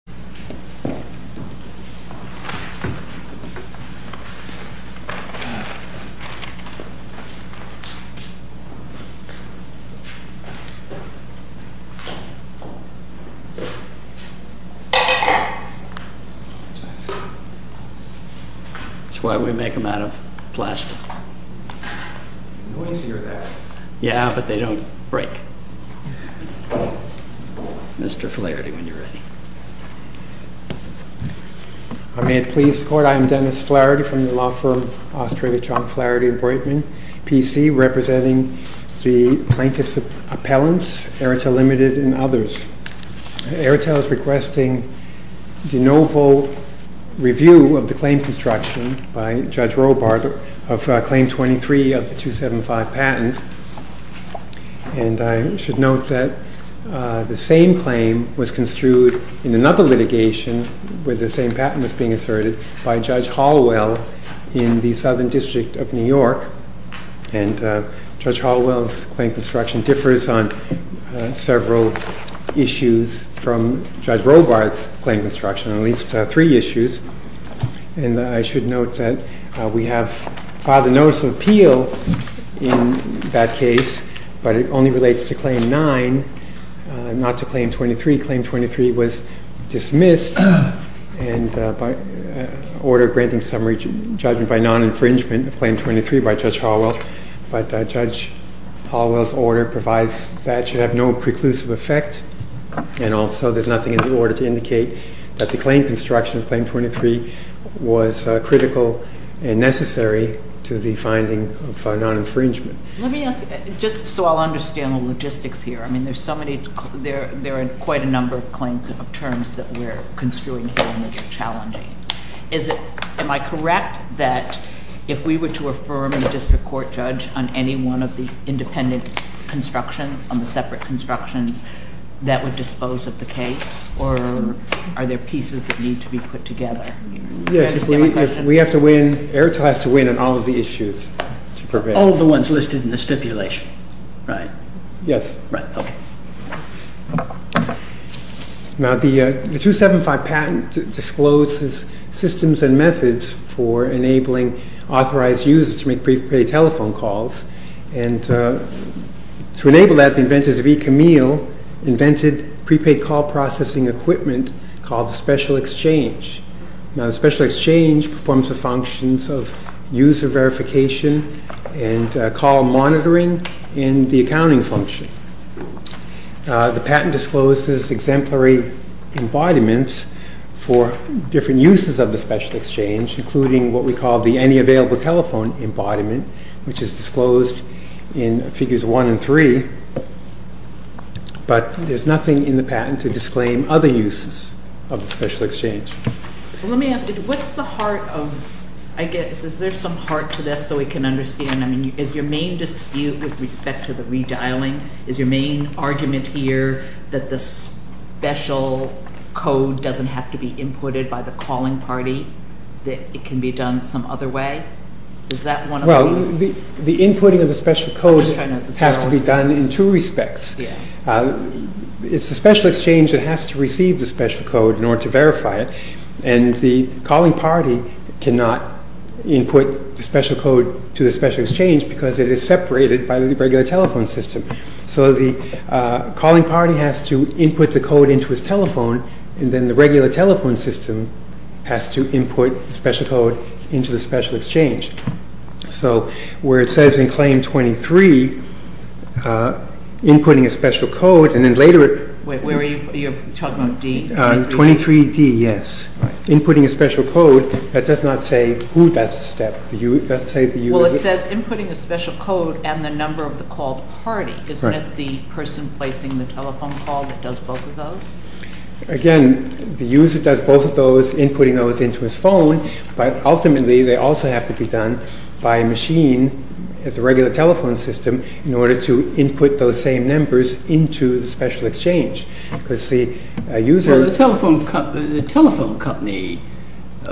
AEROTEL LTD v. TMOBILE USA May it please the Court, I am Dennis Flaherty from the law firm Australia Chalk Flaherty & Breitman, PC, representing the plaintiffs' appellants, AEROTEL Ltd. and others. AEROTEL is requesting de novo review of the claim construction by Judge Robart of Claim 23 of the 275 patent. I should note that the same claim was construed in another litigation where the same patent was being asserted by Judge Hallwell in the Southern District of New York. Judge Hallwell's claim construction differs on several issues from Judge Robart's claim construction, on at least three issues. I should note that we have filed a Notice of Appeal in that case, but it only relates to Claim 9, not to Claim 23. Claim 23 was dismissed by order granting summary judgment by non-infringement of Claim 23 by Judge Hallwell, but Judge Hallwell's order provides that it should have no preclusive effect. And also there's nothing in the order to indicate that the claim construction of Claim 23 was critical and necessary to the finding of non-infringement. Let me ask you, just so I'll understand the logistics here, I mean there's so many, there are quite a number of claims of terms that we're construing here and they're challenging. Am I correct that if we were to affirm a district court judge on any one of the independent constructions, on the separate constructions, that would dispose of the case? Or are there pieces that need to be put together? Yes, if we have to win, Airtel has to win on all of the issues. All of the ones listed in the stipulation, right? Yes. Right, okay. Now the 275 patent discloses systems and methods for enabling authorized users to make prepaid telephone calls. And to enable that, the inventors of eCamille invented prepaid call processing equipment called the Special Exchange. Now the Special Exchange performs the functions of user verification and call monitoring and the accounting function. The patent discloses exemplary embodiments for different uses of the Special Exchange, including what we call the Any Available Telephone embodiment, which is disclosed in Figures 1 and 3. But there's nothing in the patent to disclaim other uses of the Special Exchange. Let me ask you, what's the heart of, I guess, is there some heart to this so we can understand? I mean, is your main dispute with respect to the redialing, is your main argument here that the special code doesn't have to be inputted by the calling party, that it can be done some other way? Is that one of the… Well, the inputting of the special code has to be done in two respects. It's the Special Exchange that has to receive the special code in order to verify it. And the calling party cannot input the special code to the Special Exchange because it is separated by the regular telephone system. So the calling party has to input the code into his telephone, and then the regular telephone system has to input the special code into the Special Exchange. So where it says in Claim 23, inputting a special code, and then later… Wait, where are you talking about, D? 23D, yes. Inputting a special code, that does not say who does the step. Well, it says inputting a special code and the number of the called party. Isn't it the person placing the telephone call that does both of those? Again, the user does both of those, inputting those into his phone, but ultimately they also have to be done by a machine at the regular telephone system in order to input those same numbers into the Special Exchange. Because the user… The telephone company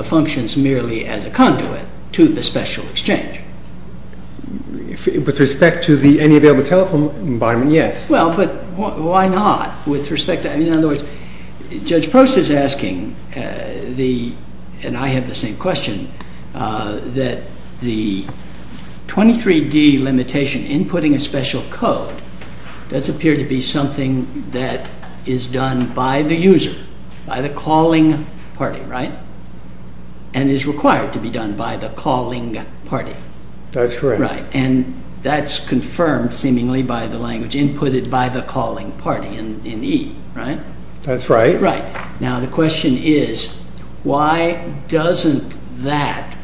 functions merely as a conduit to the Special Exchange. With respect to any available telephone environment, yes. Well, but why not? In other words, Judge Prost is asking, and I have the same question, that the 23D limitation, inputting a special code, does appear to be something that is done by the user, by the calling party, right? And is required to be done by the calling party. That's correct. And that's confirmed, seemingly, by the language inputted by the calling party in E, right? That's right. Now, the question is, why doesn't that…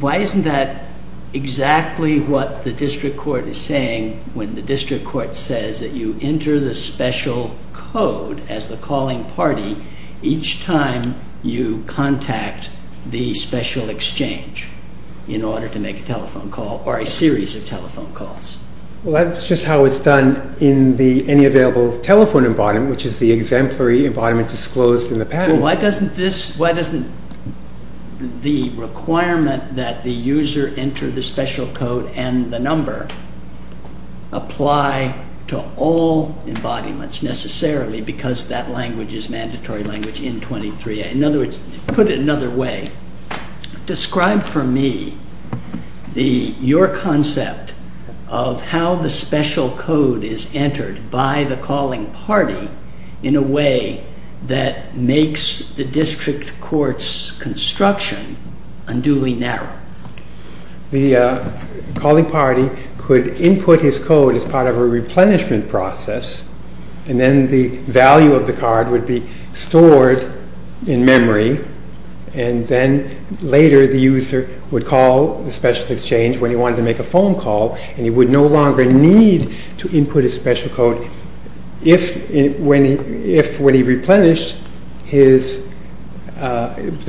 Why isn't that exactly what the District Court is saying when the District Court says that you enter the special code as the calling party each time you contact the Special Exchange in order to make a telephone call or a series of telephone calls? Well, that's just how it's done in the Any Available Telephone Embodiment, which is the exemplary embodiment disclosed in the patent. Well, why doesn't this… Why doesn't the requirement that the user enter the special code and the number apply to all embodiments, necessarily, because that language is mandatory language in 23A? In other words, put it another way, describe for me your concept of how the special code is entered by the calling party in a way that makes the District Court's construction unduly narrow. The calling party could input his code as part of a replenishment process, and then the value of the card would be stored in memory, and then later the user would call the Special Exchange when he wanted to make a phone call, and he would no longer need to input his special code if, when he replenished the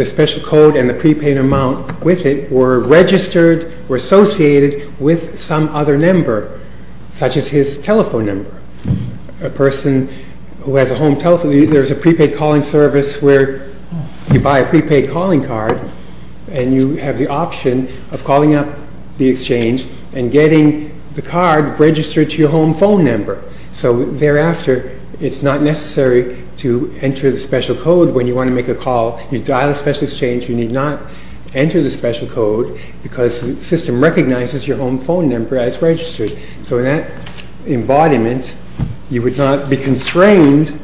special code and the prepaid amount with it, were registered or associated with some other number, such as his telephone number. A person who has a home telephone, there's a prepaid calling service where you buy a prepaid calling card, and you have the option of calling up the Exchange and getting the card registered to your home phone number. So, thereafter, it's not necessary to enter the special code when you want to make a call. You dial the Special Exchange, you need not enter the special code, because the system recognizes your home phone number as registered. So, in that embodiment, you would not be constrained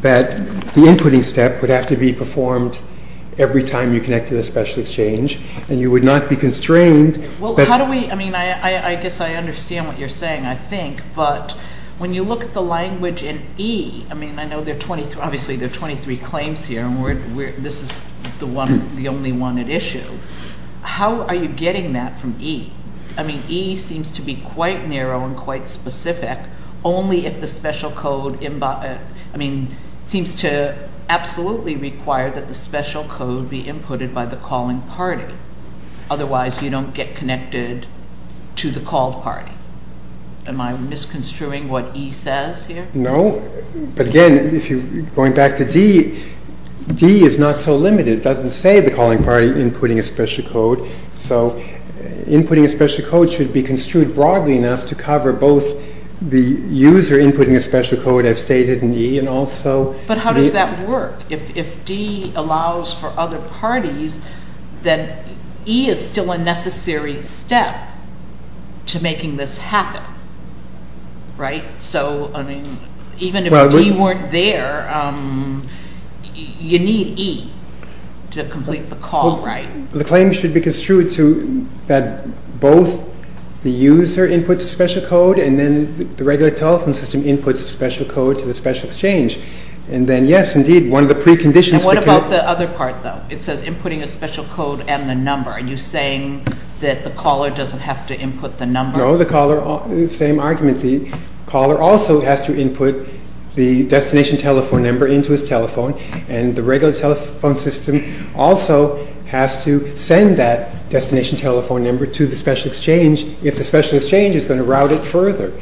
that the inputting step would have to be performed every time you connect to the Special Exchange, and you would not be constrained that... Well, how do we, I mean, I guess I understand what you're saying, I think, but when you look at the language in E, I mean, I know there are 23, obviously there are 23 claims here, and this is the one, the only one at issue. How are you getting that from E? I mean, E seems to be quite narrow and quite specific, only if the special code, I mean, seems to absolutely require that the special code be inputted by the calling party. Otherwise, you don't get connected to the called party. Am I misconstruing what E says here? No, but again, going back to D, D is not so limited. It doesn't say the calling party inputting a special code, so inputting a special code should be construed broadly enough to cover both the user inputting a special code, as stated in E, and also... Right? So, I mean, even if D weren't there, you need E to complete the call, right? The claim should be construed to that both the user inputs a special code, and then the regular telephone system inputs a special code to the Special Exchange, and then, yes, indeed, one of the preconditions... And what about the other part, though? It says inputting a special code and the number. Are you saying that the caller doesn't have to input the number? No, the caller, same argument, the caller also has to input the destination telephone number into his telephone, and the regular telephone system also has to send that destination telephone number to the Special Exchange, if the Special Exchange is going to route it further.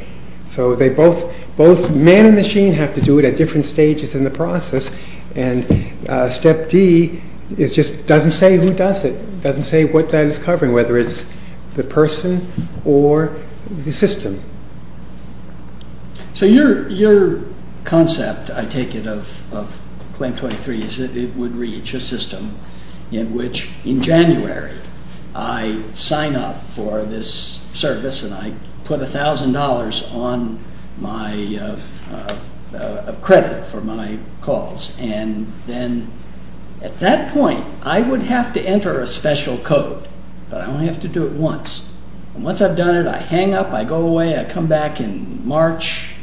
So both man and machine have to do it at different stages in the process, and Step D just doesn't say who does it, doesn't say what that is covering, whether it's the person or the system. So your concept, I take it, of Claim 23 is that it would reach a system in which, in January, I sign up for this service and I put $1,000 of credit for my calls, and then, at that point, I would have to enter a special code, but I only have to do it once. And once I've done it, I hang up, I go away, I come back in March,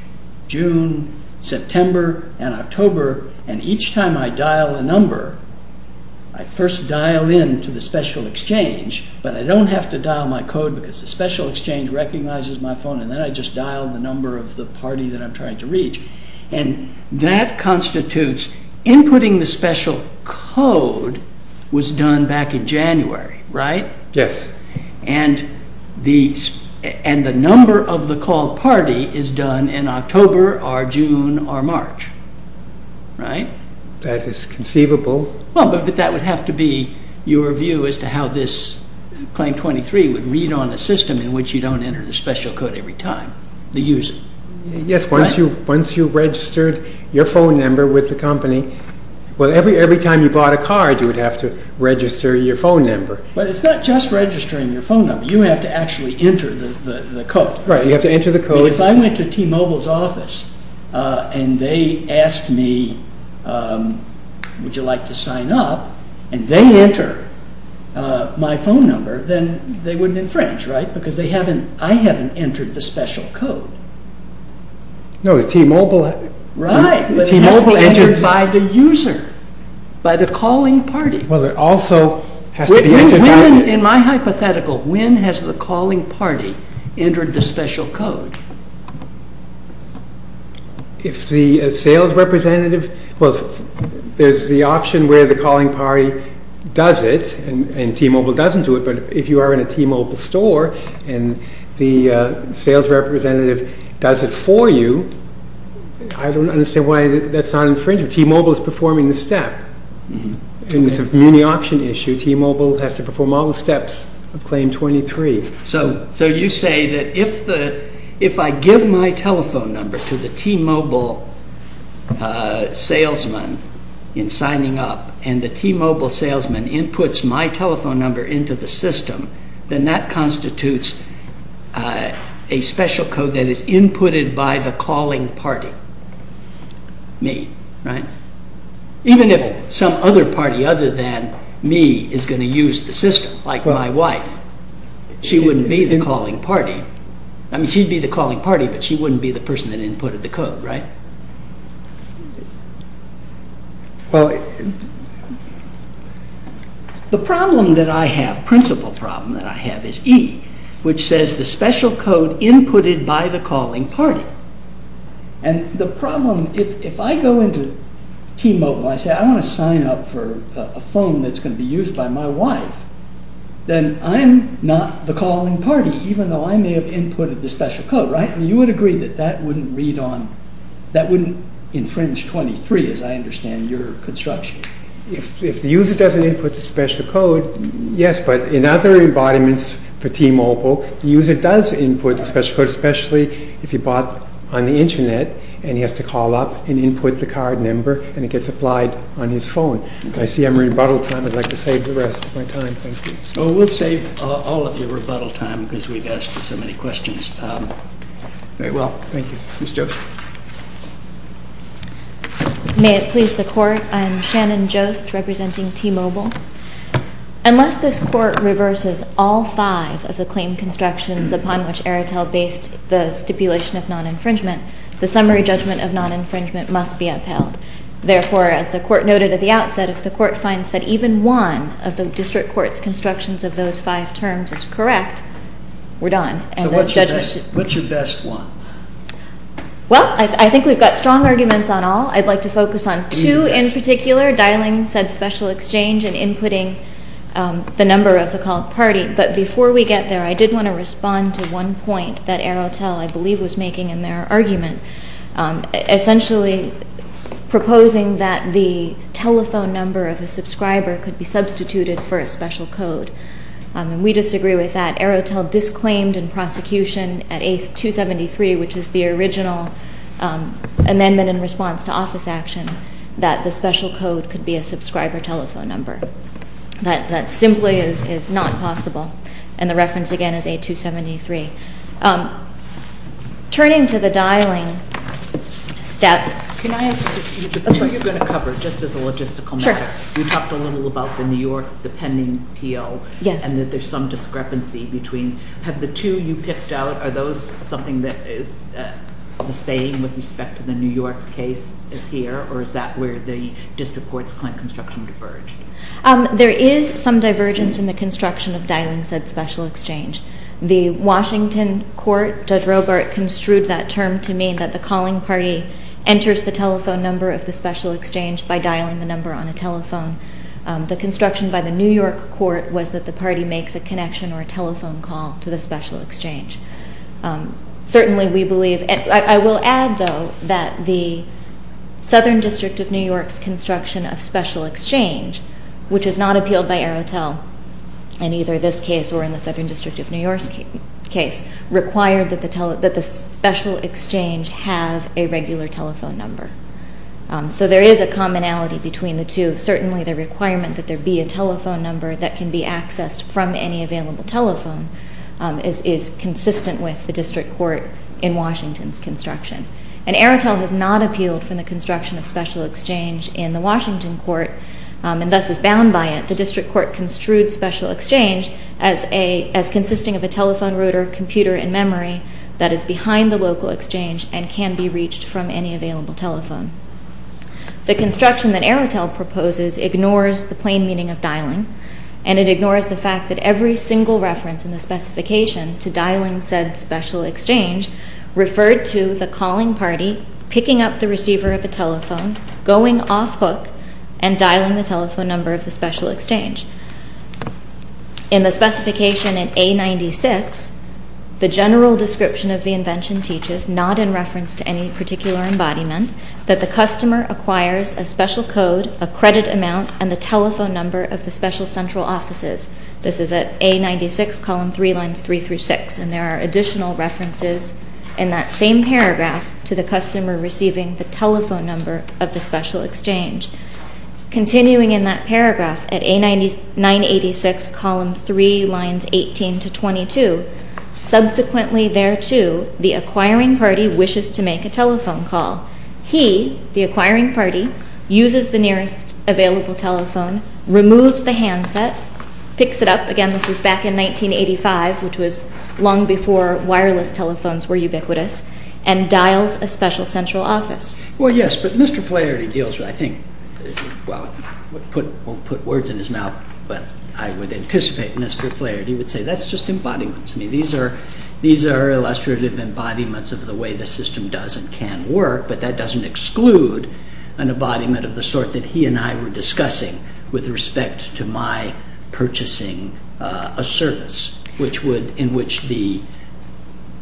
June, September, and October, and each time I dial a number, I first dial in to the Special Exchange, but I don't have to dial my code because the Special Exchange recognizes my phone, and then I just dial the number of the party that I'm trying to reach. And that constitutes, inputting the special code was done back in January, right? And the number of the called party is done in October or June or March, right? That is conceivable. Well, but that would have to be your view as to how this Claim 23 would read on a system in which you don't enter the special code every time. Yes, once you registered your phone number with the company, well, every time you bought a card, you would have to register your phone number. But it's not just registering your phone number. You have to actually enter the code. Right, you have to enter the code. So if I went to T-Mobile's office and they asked me, would you like to sign up, and they enter my phone number, then they wouldn't infringe, right? Because I haven't entered the special code. No, T-Mobile... Right, but it has to be entered by the user, by the calling party. Well, it also has to be entered by... If the sales representative, well, there's the option where the calling party does it, and T-Mobile doesn't do it, but if you are in a T-Mobile store and the sales representative does it for you, I don't understand why that's not infringing. T-Mobile is performing the step. And it's a muni-option issue. T-Mobile has to perform all the steps of Claim 23. So you say that if I give my telephone number to the T-Mobile salesman in signing up, and the T-Mobile salesman inputs my telephone number into the system, then that constitutes a special code that is inputted by the calling party, me, right? Even if some other party other than me is going to use the system, like my wife, she wouldn't be the calling party. I mean, she'd be the calling party, but she wouldn't be the person that inputted the code, right? Well, the problem that I have, principal problem that I have is E, which says the special code inputted by the calling party. And the problem, if I go into T-Mobile and I say I want to sign up for a phone that's going to be used by my wife, then I'm not the calling party, even though I may have inputted the special code, right? You would agree that that wouldn't read on, that wouldn't infringe 23 as I understand your construction. If the user doesn't input the special code, yes, but in other embodiments for T-Mobile, the user does input the special code, especially if you bought on the internet, and he has to call up and input the card number, and it gets applied on his phone. I see I'm at rebuttal time. I'd like to save the rest of my time. Thank you. Oh, we'll save all of your rebuttal time because we've asked so many questions. Very well. Thank you. Ms. Joseph. May it please the Court. I am Shannon Jost, representing T-Mobile. Unless this Court reverses all five of the claim constructions upon which Aretel based the stipulation of non-infringement, the summary judgment of non-infringement must be upheld. Therefore, as the Court noted at the outset, if the Court finds that even one of the district court's constructions of those five terms is correct, we're done. So what's your best one? Well, I think we've got strong arguments on all. I'd like to focus on two in particular, dialing said special exchange and inputting the number of the called party. But before we get there, I did want to respond to one point that Aretel, I believe, was making in their argument, essentially proposing that the telephone number of a subscriber could be substituted for a special code, and we disagree with that. We believe that Aretel disclaimed in prosecution at A-273, which is the original amendment in response to office action, that the special code could be a subscriber telephone number. That simply is not possible, and the reference again is A-273. Turning to the dialing step. Can I ask a few questions? Which you're going to cover, just as a logistical matter. Sure. You talked a little about the New York, the pending PO. Yes. And that there's some discrepancy between, have the two you picked out, are those something that is the same with respect to the New York case as here, or is that where the district court's claim construction diverged? There is some divergence in the construction of dialing said special exchange. The Washington court, Judge Robart construed that term to mean that the calling party enters the telephone number of the special exchange by dialing the number on a telephone. The construction by the New York court was that the party makes a connection or a telephone call to the special exchange. Certainly we believe, and I will add, though, that the Southern District of New York's construction of special exchange, which is not appealed by Aretel in either this case or in the Southern District of New York's case, required that the special exchange have a regular telephone number. So there is a commonality between the two. Certainly the requirement that there be a telephone number that can be accessed from any available telephone is consistent with the district court in Washington's construction. And Aretel has not appealed for the construction of special exchange in the Washington court, and thus is bound by it. The district court construed special exchange as consisting of a telephone router, computer, and memory that is behind the local exchange and can be reached from any available telephone. The construction that Aretel proposes ignores the plain meaning of dialing, and it ignores the fact that every single reference in the specification to dialing said special exchange referred to the calling party picking up the receiver of the telephone, going off hook, and dialing the telephone number of the special exchange. In the specification in A96, the general description of the invention teaches, not in reference to any particular embodiment, that the customer acquires a special code, a credit amount, and the telephone number of the special central offices. This is at A96, column 3, lines 3 through 6, and there are additional references in that same paragraph to the customer receiving the telephone number of the special exchange. Continuing in that paragraph at A986, column 3, lines 18 to 22, subsequently thereto, the acquiring party wishes to make a telephone call. He, the acquiring party, uses the nearest available telephone, removes the handset, picks it up, again, this was back in 1985, which was long before wireless telephones were ubiquitous, and dials a special central office. Well, yes, but Mr. Flaherty deals with, I think, well, I won't put words in his mouth, but I would anticipate Mr. Flaherty would say, that's just embodiments. I mean, these are illustrative embodiments of the way the system does and can work, but that doesn't exclude an embodiment of the sort that he and I were discussing with respect to my purchasing a service, in which the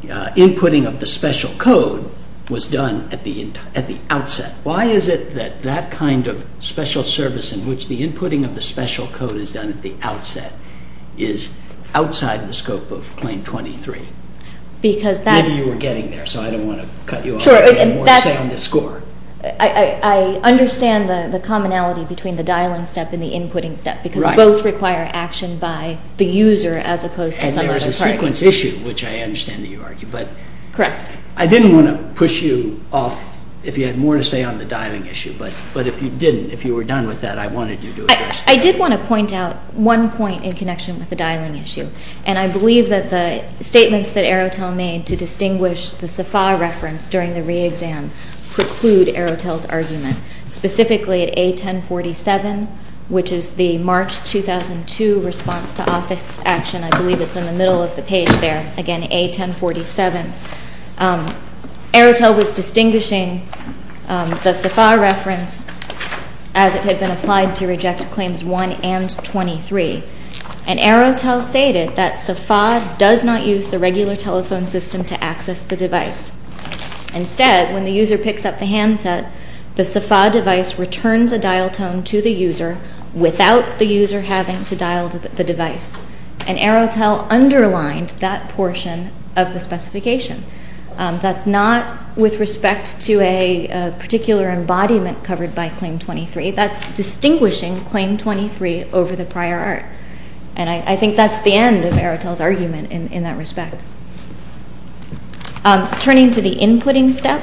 inputting of the special code was done at the outset. Why is it that that kind of special service in which the inputting of the special code is done at the outset is outside the scope of Claim 23? Maybe you were getting there, so I don't want to cut you off. I have more to say on the score. I understand the commonality between the dialing step and the inputting step, because both require action by the user as opposed to some other party. And there's a sequence issue, which I understand that you argue. Correct. I didn't want to push you off if you had more to say on the dialing issue, but if you didn't, if you were done with that, I wanted you to address that. I did want to point out one point in connection with the dialing issue, and I believe that the statements that Arotel made to distinguish the SAFA reference during the re-exam preclude Arotel's argument, specifically at A1047, which is the March 2002 response to office action. I believe it's in the middle of the page there, again, A1047. Arotel was distinguishing the SAFA reference as it had been applied to reject Claims 1 and 23. And Arotel stated that SAFA does not use the regular telephone system to access the device. Instead, when the user picks up the handset, the SAFA device returns a dial tone to the user without the user having to dial the device. And Arotel underlined that portion of the specification. That's not with respect to a particular embodiment covered by Claim 23. That's distinguishing Claim 23 over the prior art. And I think that's the end of Arotel's argument in that respect. Turning to the inputting step,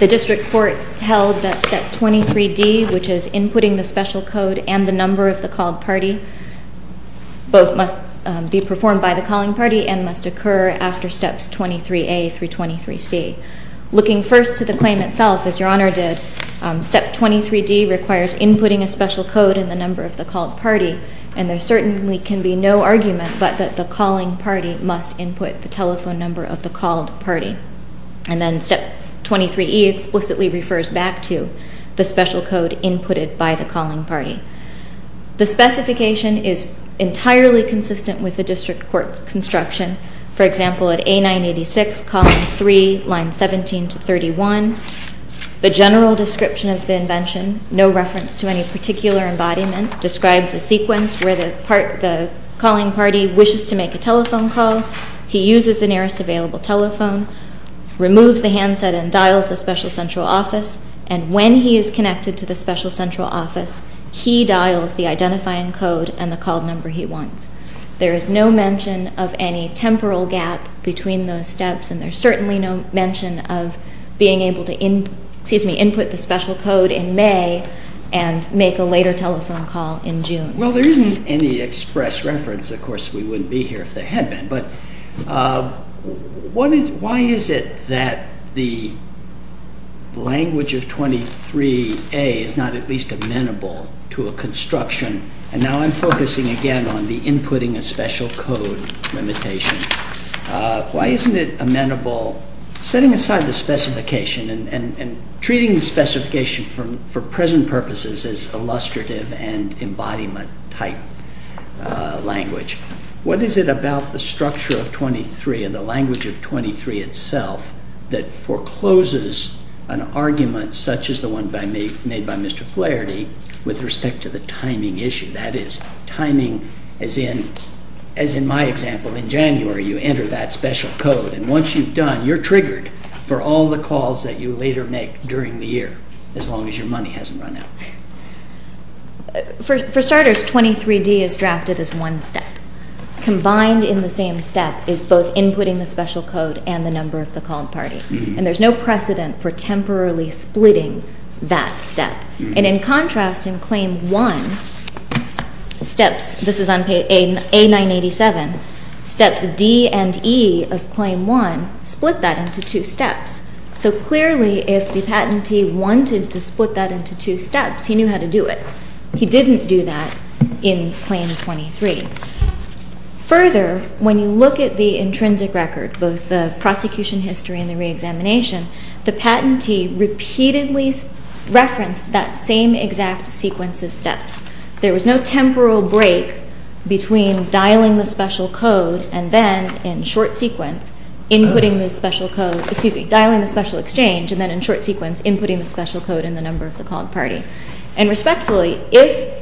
the district court held that Step 23D, which is inputting the special code and the number of the called party, both must be performed by the calling party and must occur after Steps 23A through 23C. Looking first to the claim itself, as Your Honor did, Step 23D requires inputting a special code and the number of the called party, and there certainly can be no argument but that the calling party must input the telephone number of the called party. And then Step 23E explicitly refers back to the special code inputted by the calling party. The specification is entirely consistent with the district court's construction. For example, at A986, column 3, line 17 to 31, the general description of the invention, no reference to any particular embodiment, describes a sequence where the calling party wishes to make a telephone call. He uses the nearest available telephone, removes the handset and dials the special central office, and when he is connected to the special central office, he dials the identifying code and the called number he wants. There is no mention of any temporal gap between those steps, and there's certainly no mention of being able to input the special code in May and make a later telephone call in June. Well, there isn't any express reference. Of course, we wouldn't be here if there had been. But why is it that the language of 23A is not at least amenable to a construction? And now I'm focusing again on the inputting a special code limitation. Why isn't it amenable, setting aside the specification and treating the specification for present purposes as illustrative and embodiment-type language? What is it about the structure of 23 and the language of 23 itself that forecloses an argument such as the one made by Mr. Flaherty with respect to the timing issue? That is, timing as in my example, in January you enter that special code, and once you've done, you're triggered for all the calls that you later make during the year, as long as your money hasn't run out. For starters, 23D is drafted as one step. Combined in the same step is both inputting the special code and the number of the call party, and there's no precedent for temporarily splitting that step. And in contrast, in Claim 1, steps, this is on page A987, steps D and E of Claim 1 split that into two steps. So clearly if the patentee wanted to split that into two steps, he knew how to do it. He didn't do that in Claim 23. Further, when you look at the intrinsic record, both the prosecution history and the reexamination, the patentee repeatedly referenced that same exact sequence of steps. There was no temporal break between dialing the special code and then, in short sequence, inputting the special code, excuse me, dialing the special exchange, and then in short sequence inputting the special code and the number of the called party. And respectfully,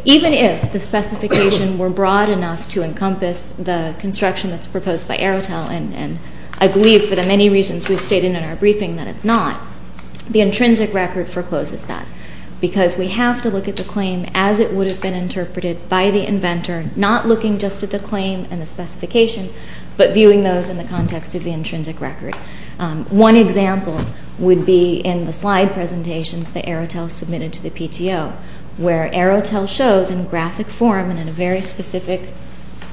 even if the specification were broad enough to encompass the construction that's proposed by Arotel, and I believe for the many reasons we've stated in our briefing that it's not, the intrinsic record forecloses that, because we have to look at the claim as it would have been interpreted by the inventor, not looking just at the claim and the specification, but viewing those in the context of the intrinsic record. One example would be in the slide presentations that Arotel submitted to the PTO, where Arotel shows in graphic form and in a very specific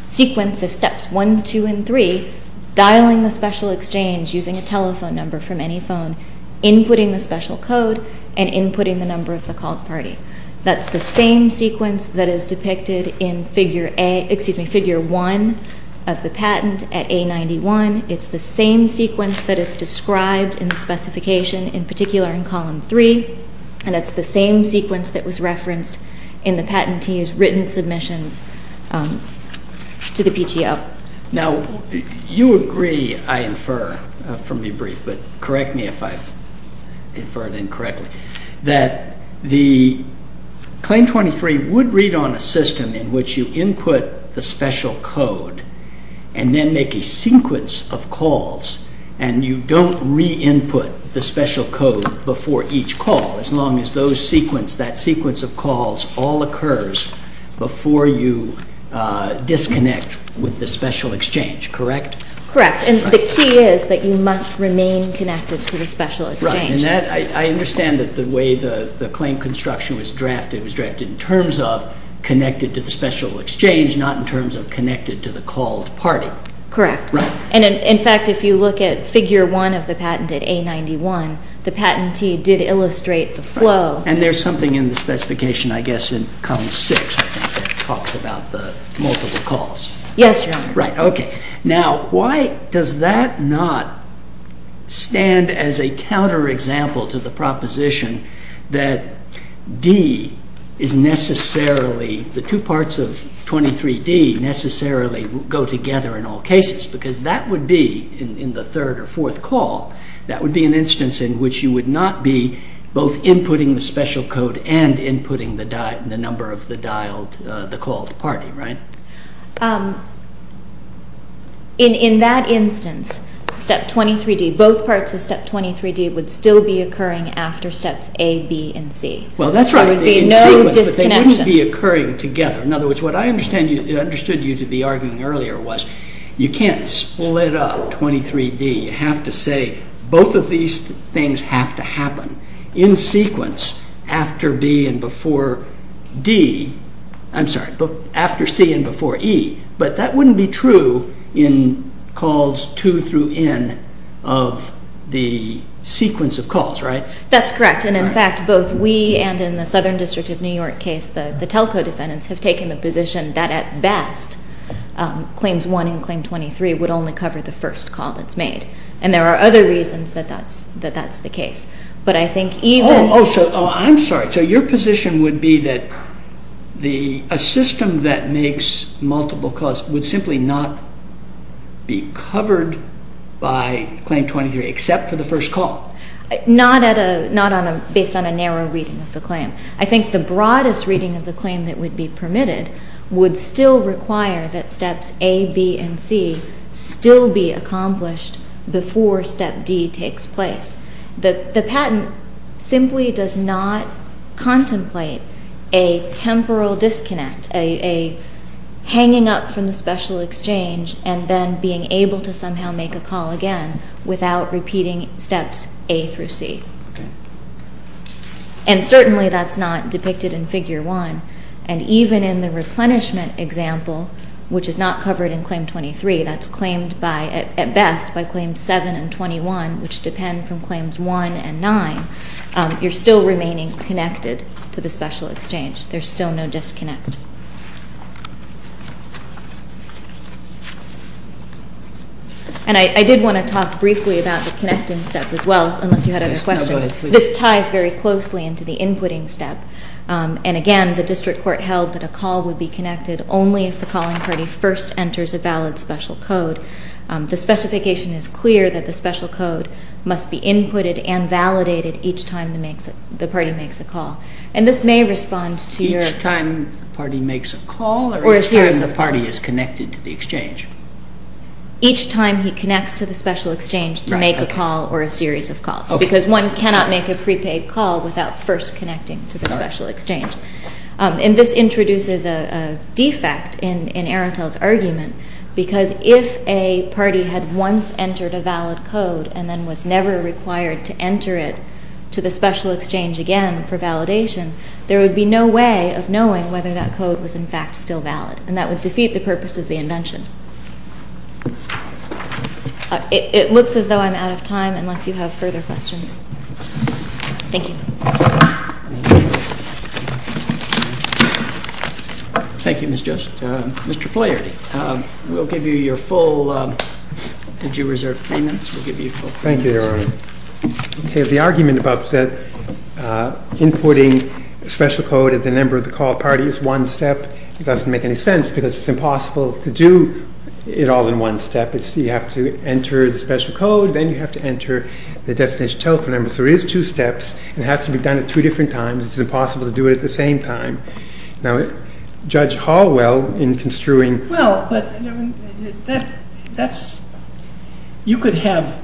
sequence of steps 1, 2, and 3, dialing the special exchange using a telephone number from any phone, inputting the special code, and inputting the number of the called party. That's the same sequence that is depicted in figure A, excuse me, figure 1 of the patent at A91. It's the same sequence that is described in the specification, in particular in column 3, and it's the same sequence that was referenced in the patentee's written submissions to the PTO. Now, you agree, I infer from your brief, but correct me if I've inferred incorrectly, that the Claim 23 would read on a system in which you input the special code and then make a sequence of calls, and you don't re-input the special code before each call, as long as that sequence of calls all occurs before you disconnect with the special exchange, correct? Correct. And the key is that you must remain connected to the special exchange. Right. It was drafted in terms of connected to the special exchange, not in terms of connected to the called party. Correct. And, in fact, if you look at figure 1 of the patent at A91, the patentee did illustrate the flow. And there's something in the specification, I guess, in column 6 that talks about the multiple calls. Yes, Your Honor. Right, okay. Now, why does that not stand as a counterexample to the proposition that D is necessarily, the two parts of 23D necessarily go together in all cases? Because that would be, in the third or fourth call, that would be an instance in which you would not be both inputting the special code and inputting the number of the dialed, the called party, right? In that instance, step 23D, both parts of step 23D would still be occurring after steps A, B, and C. Well, that's right. There would be no disconnection. But they wouldn't be occurring together. In other words, what I understood you to be arguing earlier was you can't split up 23D. You have to say both of these things have to happen in sequence after B and before D. I'm sorry, after C and before E. But that wouldn't be true in calls 2 through N of the sequence of calls, right? That's correct. And, in fact, both we and, in the Southern District of New York case, the telco defendants have taken the position that, at best, Claims 1 and Claim 23 would only cover the first call that's made. And there are other reasons that that's the case. But I think even— Oh, I'm sorry. So your position would be that a system that makes multiple calls would simply not be covered by Claim 23, except for the first call? Not based on a narrow reading of the claim. I think the broadest reading of the claim that would be permitted would still require that Steps A, B, and C still be accomplished before Step D takes place. The patent simply does not contemplate a temporal disconnect, a hanging up from the special exchange and then being able to somehow make a call again without repeating Steps A through C. Okay. And certainly that's not depicted in Figure 1. And even in the replenishment example, which is not covered in Claim 23, that's claimed at best by Claims 7 and 21, which depend from Claims 1 and 9, you're still remaining connected to the special exchange. There's still no disconnect. And I did want to talk briefly about the connecting step as well, unless you had other questions. This ties very closely into the inputting step. And again, the district court held that a call would be connected only if the calling party first enters a valid special code. The specification is clear that the special code must be inputted and validated each time the party makes a call. And this may respond to your... Each time the party makes a call or each time the party is connected to the exchange? Each time he connects to the special exchange to make a call or a series of calls. Because one cannot make a prepaid call without first connecting to the special exchange. And this introduces a defect in Arendtel's argument, because if a party had once entered a valid code and then was never required to enter it to the special exchange again for validation, there would be no way of knowing whether that code was in fact still valid. And that would defeat the purpose of the invention. It looks as though I'm out of time, unless you have further questions. Thank you. Thank you, Ms. Jost. Mr. Flaherty, we'll give you your full... Did you reserve three minutes? We'll give you your full three minutes. Thank you, Your Honor. Okay, the argument about that inputting special code at the number of the call party is one step, but it doesn't make any sense because it's impossible to do it all in one step. You have to enter the special code, then you have to enter the destination telephone number. So it is two steps, and it has to be done at two different times. It's impossible to do it at the same time. Now, Judge Hallwell, in construing... Well, but that's... You could have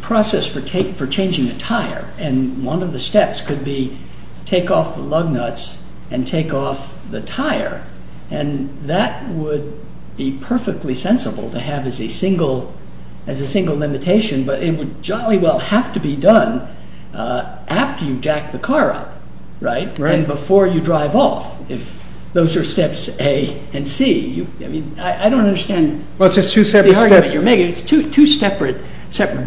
process for changing the tire, and one of the steps could be take off the lug nuts and take off the tire, and that would be perfectly sensible to have as a single limitation, but it would jolly well have to be done after you jack the car up, right, and before you drive off, if those are steps A and C. I mean, I don't understand... Well, it's just two separate steps. The argument you're making, it's two separate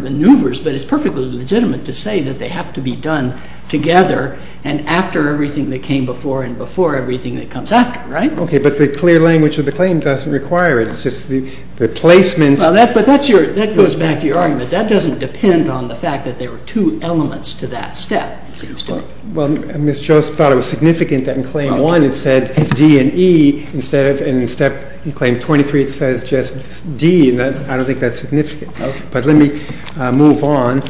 maneuvers, but it's perfectly legitimate to say that they have to be done together and after everything that came before and before everything that comes after, right? Okay, but the clear language of the claim doesn't require it. It's just the placement... Well, that goes back to your argument. That doesn't depend on the fact that there were two elements to that step, it seems to me. Well, Ms. Joseph thought it was significant that in Claim 1 it said D and E, and in Step 23 it says just D, and I don't think that's significant. But let me move on.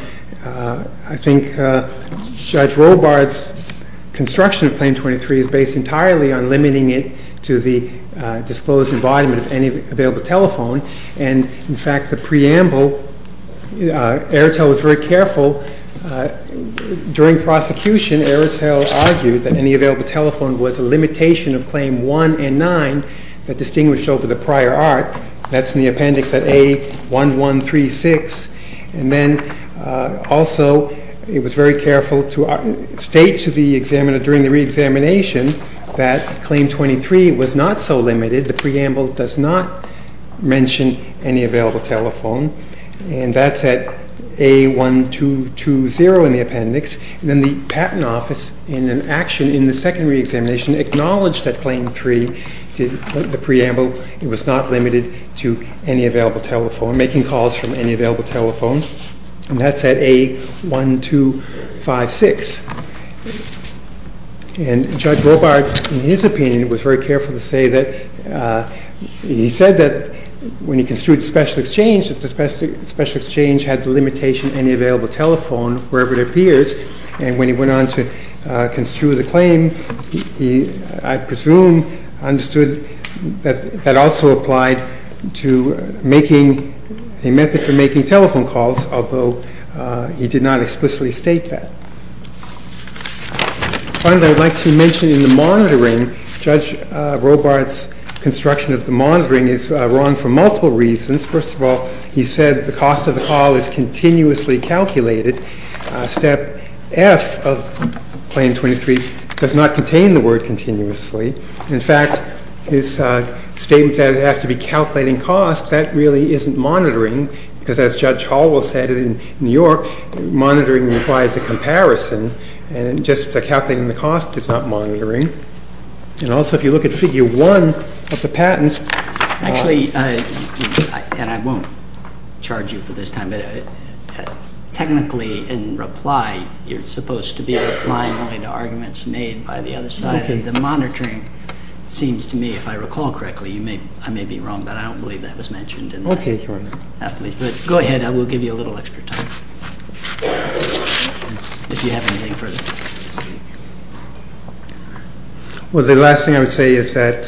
I think Judge Robart's construction of Claim 23 is based entirely on limiting it to the disclosed embodiment of any available telephone, and, in fact, the preamble, Airtel was very careful. During prosecution, Airtel argued that any available telephone was a limitation of Claim 1 and 9 that distinguished over the prior art. That's in the appendix at A1136. And then also it was very careful to state to the examiner during the reexamination that Claim 23 was not so limited. The preamble does not mention any available telephone, and that's at A1220 in the appendix. And then the Patent Office, in an action in the second reexamination, acknowledged that Claim 3, the preamble, it was not limited to any available telephone, making calls from any available telephone, and that's at A1256. And Judge Robart, in his opinion, was very careful to say that he said that when he construed Special Exchange, that the Special Exchange had the limitation any available telephone wherever it appears, and when he went on to construe the claim, he, I presume, understood that that also applied to making a method for making telephone calls, although he did not explicitly state that. Finally, I would like to mention in the monitoring, Judge Robart's construction of the monitoring is wrong for multiple reasons. First of all, he said the cost of the call is continuously calculated. Step F of Claim 23 does not contain the word continuously. In fact, his statement that it has to be calculating cost, that really isn't monitoring, because as Judge Hall will say in New York, monitoring implies a comparison, and just calculating the cost is not monitoring. And also, if you look at Figure 1 of the patent — and I won't charge you for this time, but technically in reply, you're supposed to be replying only to arguments made by the other side, and the monitoring seems to me, if I recall correctly, I may be wrong, but I don't believe that was mentioned in that. Okay, Your Honor. Go ahead. I will give you a little extra time if you have anything further to say. Well, the last thing I would say is that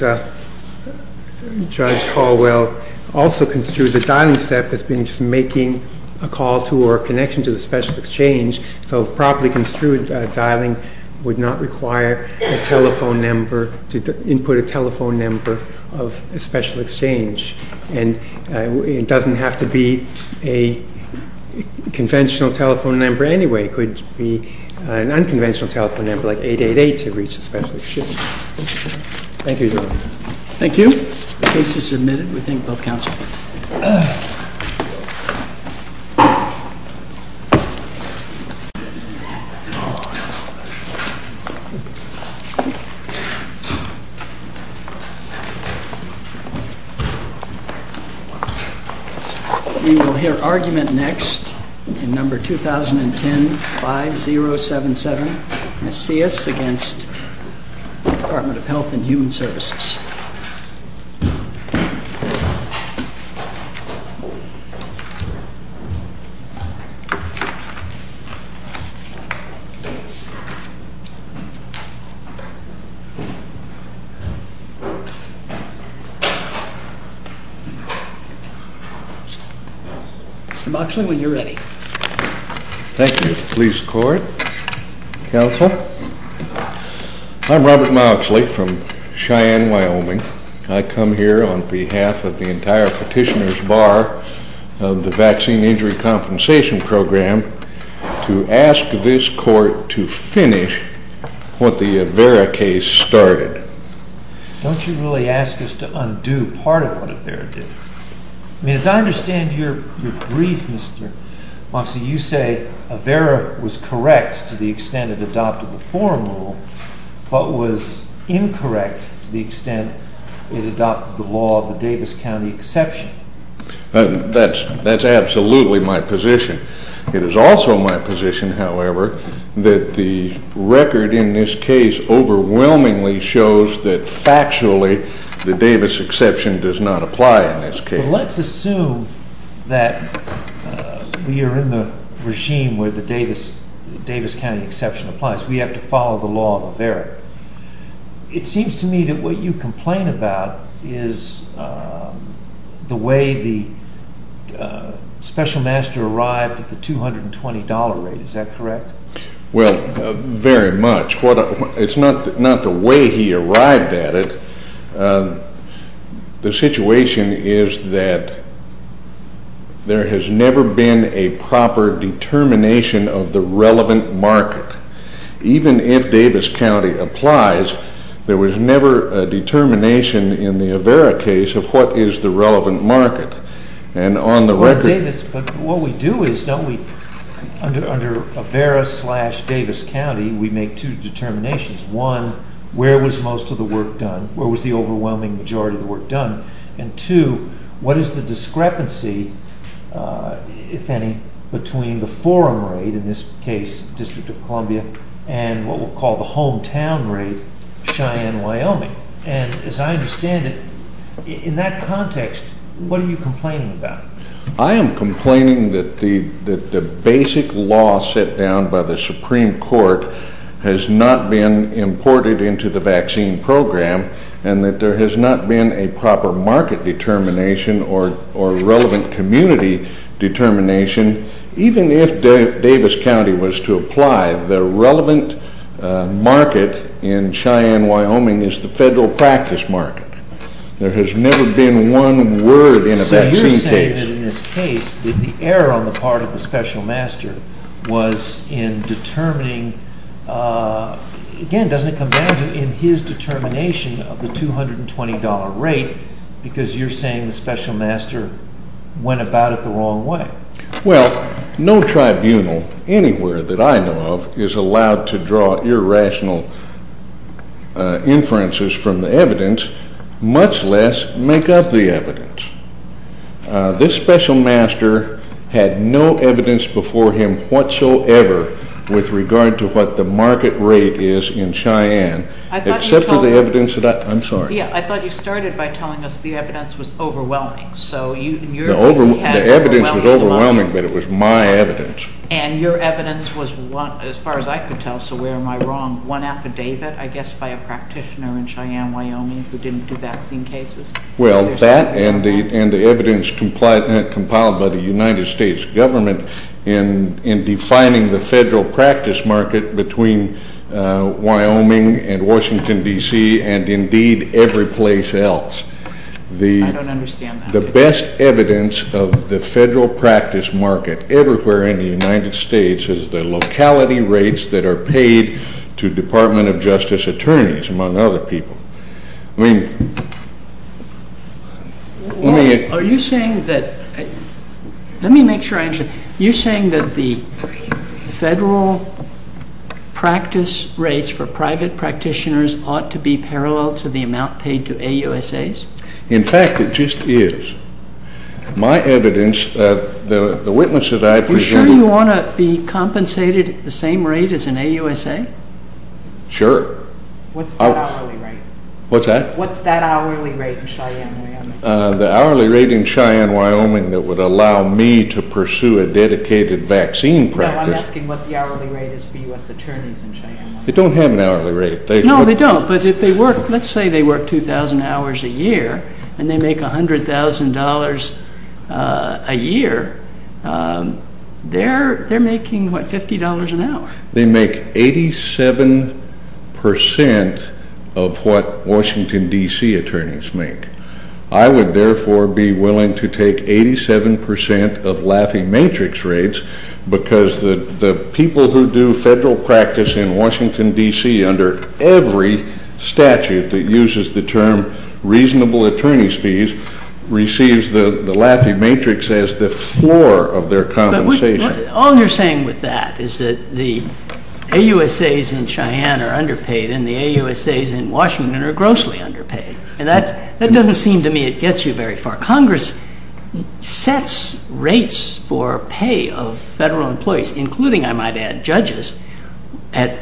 Judge Hall will also construe the dialing step as being just making a call to or a connection to the special exchange, so properly construed dialing would not require a telephone number to input a telephone number of a special exchange. And it doesn't have to be a conventional telephone number anyway. It could be an unconventional telephone number like 888 to reach a special exchange. Thank you, Your Honor. Thank you. The case is submitted. We thank both counsel. We will hear argument next in No. 2010-5077, Macias against Department of Health and Human Services. Mr. Moxley, when you're ready. Thank you. Please record, counsel. I'm Robert Moxley from Cheyenne, Wyoming. I come here on behalf of the entire petitioner's bar of the Vaccine Injury Compensation Program to ask this court to finish what the Avera case started. Don't you really ask us to undo part of what Avera did? As I understand your brief, Mr. Moxley, you say Avera was correct to the extent it adopted the forum rule but was incorrect to the extent it adopted the law of the Davis County exception. That's absolutely my position. It is also my position, however, that the record in this case overwhelmingly shows that factually the Davis exception does not apply in this case. Let's assume that we are in the regime where the Davis County exception applies. We have to follow the law of Avera. It seems to me that what you complain about is the way the special master arrived at the $220 rate. Is that correct? Well, very much. It's not the way he arrived at it. The situation is that there has never been a proper determination of the relevant market. Even if Davis County applies, there was never a determination in the Avera case of what is the relevant market. Under Avera slash Davis County, we make two determinations. One, where was most of the work done? Where was the overwhelming majority of the work done? Two, what is the discrepancy, if any, between the forum rate, in this case District of Columbia, and what we'll call the hometown rate, Cheyenne, Wyoming? As I understand it, in that context, what are you complaining about? I am complaining that the basic law set down by the Supreme Court has not been imported into the vaccine program, and that there has not been a proper market determination or relevant community determination. Even if Davis County was to apply, the relevant market in Cheyenne, Wyoming, is the federal practice market. There has never been one word in a vaccine case. So you're saying that in this case, the error on the part of the special master was in determining, again, doesn't it come down to, in his determination of the $220 rate, because you're saying the special master went about it the wrong way. Well, no tribunal anywhere that I know of is allowed to draw irrational inferences from the evidence, much less make up the evidence. This special master had no evidence before him whatsoever with regard to what the market rate is in Cheyenne, except for the evidence that I, I'm sorry. Yeah, I thought you started by telling us the evidence was overwhelming. The evidence was overwhelming, but it was my evidence. And your evidence was, as far as I could tell, so where am I wrong, one affidavit, I guess, by a practitioner in Cheyenne, Wyoming, who didn't do vaccine cases? Well, that and the evidence compiled by the United States government in defining the federal practice market between Wyoming and Washington, D.C., and indeed every place else. I don't understand that. The best evidence of the federal practice market everywhere in the United States is the locality rates that are paid to Department of Justice attorneys, among other people. Are you saying that, let me make sure I understand, you're saying that the federal practice rates for private practitioners ought to be parallel to the amount paid to AUSAs? In fact, it just is. My evidence, the witnesses I presume... Are you sure you want to be compensated at the same rate as an AUSA? Sure. What's that hourly rate? What's that? What's that hourly rate in Cheyenne, Wyoming? The hourly rate in Cheyenne, Wyoming that would allow me to pursue a dedicated vaccine practice... No, I'm asking what the hourly rate is for U.S. attorneys in Cheyenne, Wyoming. They don't have an hourly rate. No, they don't, but if they work, let's say they work 2,000 hours a year and they make $100,000 a year, they're making, what, $50 an hour. They make 87% of what Washington, D.C. attorneys make. I would therefore be willing to take 87% of Laffey Matrix rates because the people who do federal practice in Washington, D.C. under every statute that uses the term reasonable attorney's fees receives the Laffey Matrix as the floor of their compensation. All you're saying with that is that the AUSAs in Cheyenne are underpaid and the AUSAs in Washington are grossly underpaid. That doesn't seem to me it gets you very far. Congress sets rates for pay of federal employees, including, I might add, judges, at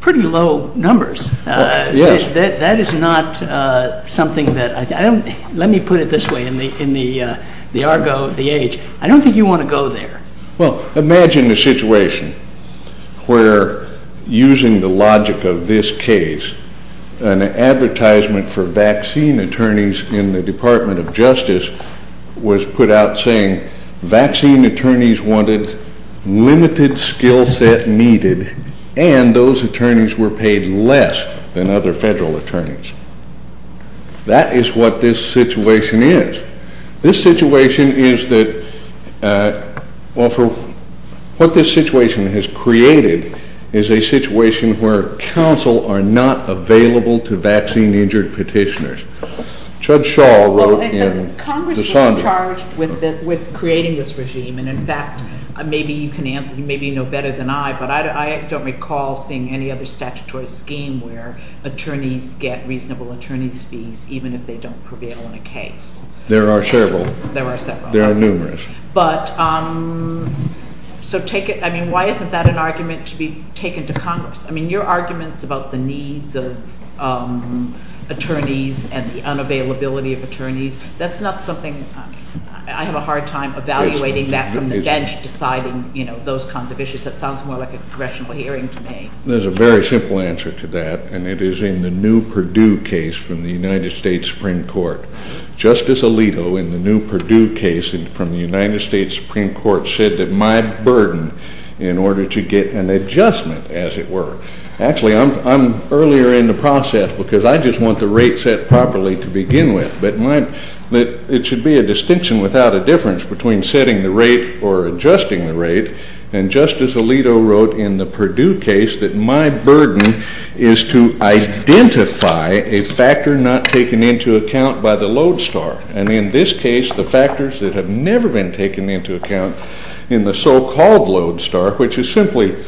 pretty low numbers. That is not something that I think... Let me put it this way in the argo of the age. I don't think you want to go there. Well, imagine a situation where, using the logic of this case, an advertisement for vaccine attorneys in the Department of Justice was put out saying vaccine attorneys wanted limited skill set needed and those attorneys were paid less than other federal attorneys. That is what this situation is. This situation is that, well, what this situation has created is a situation where counsel are not available to vaccine-injured petitioners. Judge Shaw wrote in the Sondra... Well, Congress was charged with creating this regime and, in fact, maybe you know better than I, but I don't recall seeing any other statutory scheme where attorneys get reasonable attorney's fees even if they don't prevail in a case. There are several. There are several. There are numerous. But, so take it... I mean, why isn't that an argument to be taken to Congress? I mean, your arguments about the needs of attorneys and the unavailability of attorneys, that's not something... I have a hard time evaluating that from the bench, deciding those kinds of issues. That sounds more like a congressional hearing to me. There's a very simple answer to that and it is in the new Purdue case from the United States Supreme Court. Justice Alito, in the new Purdue case from the United States Supreme Court, said that my burden in order to get an adjustment, as it were... Actually, I'm earlier in the process because I just want the rate set properly to begin with, but it should be a distinction without a difference between setting the rate or adjusting the rate, and Justice Alito wrote in the Purdue case that my burden is to identify a factor not taken into account by the Lodestar, and in this case, the factors that have never been taken into account in the so-called Lodestar, which is simply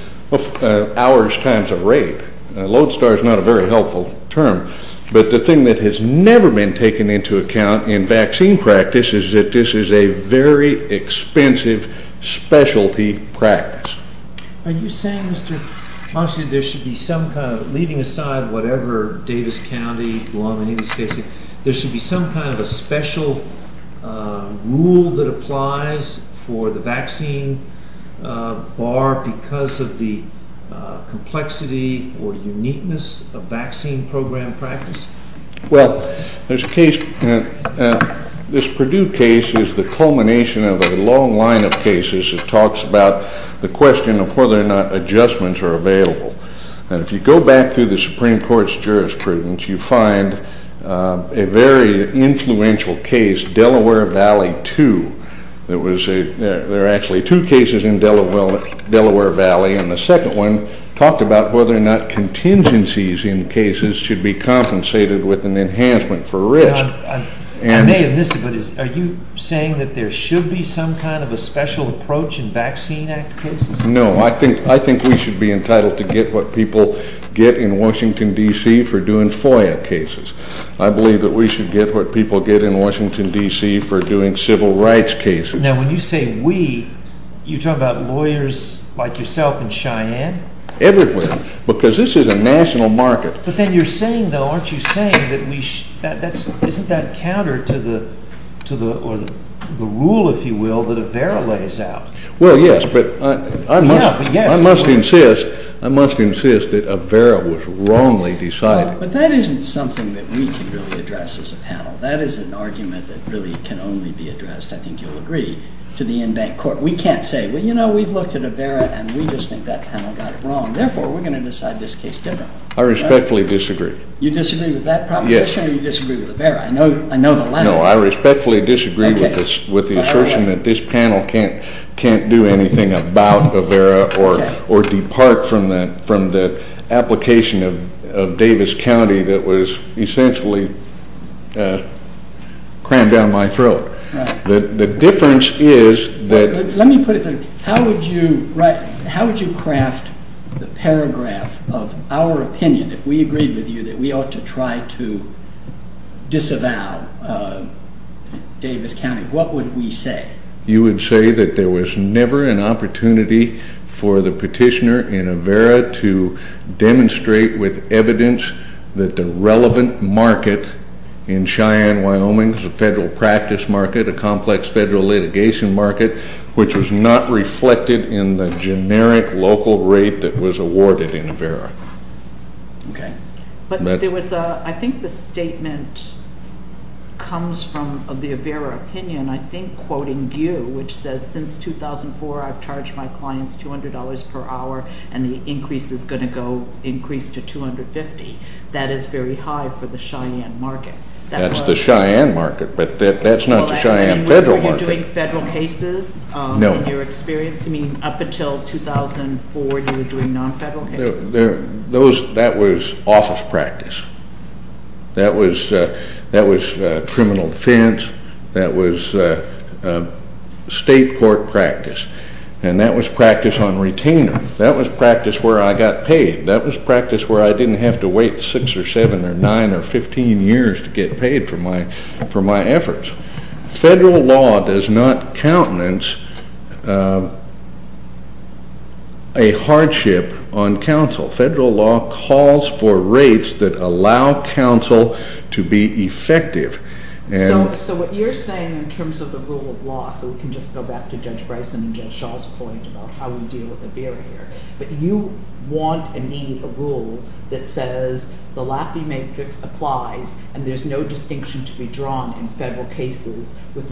hours times a rate. Lodestar is not a very helpful term, but the thing that has never been taken into account in vaccine practice is that this is a very expensive specialty practice. Are you saying, Mr. Monson, there should be some kind of... Leaving aside whatever Davis County, Guam, any of these cases, there should be some kind of a special rule that applies for the vaccine bar because of the complexity or uniqueness of vaccine program practice? Well, there's a case... This Purdue case is the culmination of a long line of cases that talks about the question of whether or not adjustments are available, and if you go back through the Supreme Court's jurisprudence, you find a very influential case, Delaware Valley 2. There are actually two cases in Delaware Valley, and the second one talked about whether or not contingencies in cases should be compensated with an enhancement for risk. I may have missed it, but are you saying that there should be some kind of a special approach in Vaccine Act cases? No. I think we should be entitled to get what people get in Washington, D.C., for doing FOIA cases. I believe that we should get what people get in Washington, D.C., for doing civil rights cases. Now, when you say we, you're talking about lawyers like yourself in Cheyenne? Everywhere, because this is a national market. But then you're saying, though, aren't you saying that we should... to the rule, if you will, that Avera lays out? Well, yes, but I must insist that Avera was wrongly decided. But that isn't something that we can really address as a panel. That is an argument that really can only be addressed, I think you'll agree, to the in-bank court. We can't say, well, you know, we've looked at Avera, and we just think that panel got it wrong. Therefore, we're going to decide this case differently. I respectfully disagree. You disagree with that proposition or you disagree with Avera? I know the latter. I respectfully disagree with the assertion that this panel can't do anything about Avera or depart from the application of Davis County that was essentially crammed down my throat. The difference is that... Let me put it this way. How would you craft the paragraph of our opinion, if we agreed with you, that we ought to try to disavow Davis County? What would we say? You would say that there was never an opportunity for the petitioner in Avera to demonstrate with evidence that the relevant market in Cheyenne, Wyoming is a federal practice market, a complex federal litigation market, which was not reflected in the generic local rate that was awarded in Avera. Okay. I think the statement comes from the Avera opinion, I think, quoting you, which says since 2004 I've charged my clients $200 per hour and the increase is going to go increase to $250. That is very high for the Cheyenne market. That's the Cheyenne market, but that's not the Cheyenne federal market. Were you doing federal cases in your experience? You mean up until 2004 you were doing non-federal cases? That was office practice. That was criminal defense. That was state court practice. And that was practice on retainer. That was practice where I got paid. That was practice where I didn't have to wait 6 or 7 or 9 or 15 years to get paid for my efforts. Federal law does not countenance a hardship on counsel. Federal law calls for rates that allow counsel to be effective. So what you're saying in terms of the rule of law, so we can just go back to Judge Bryson and Judge Shaw's point about how we deal with the barrier, but you want and need a rule that says the Laffey Matrix applies and there's no distinction to be drawn in federal cases.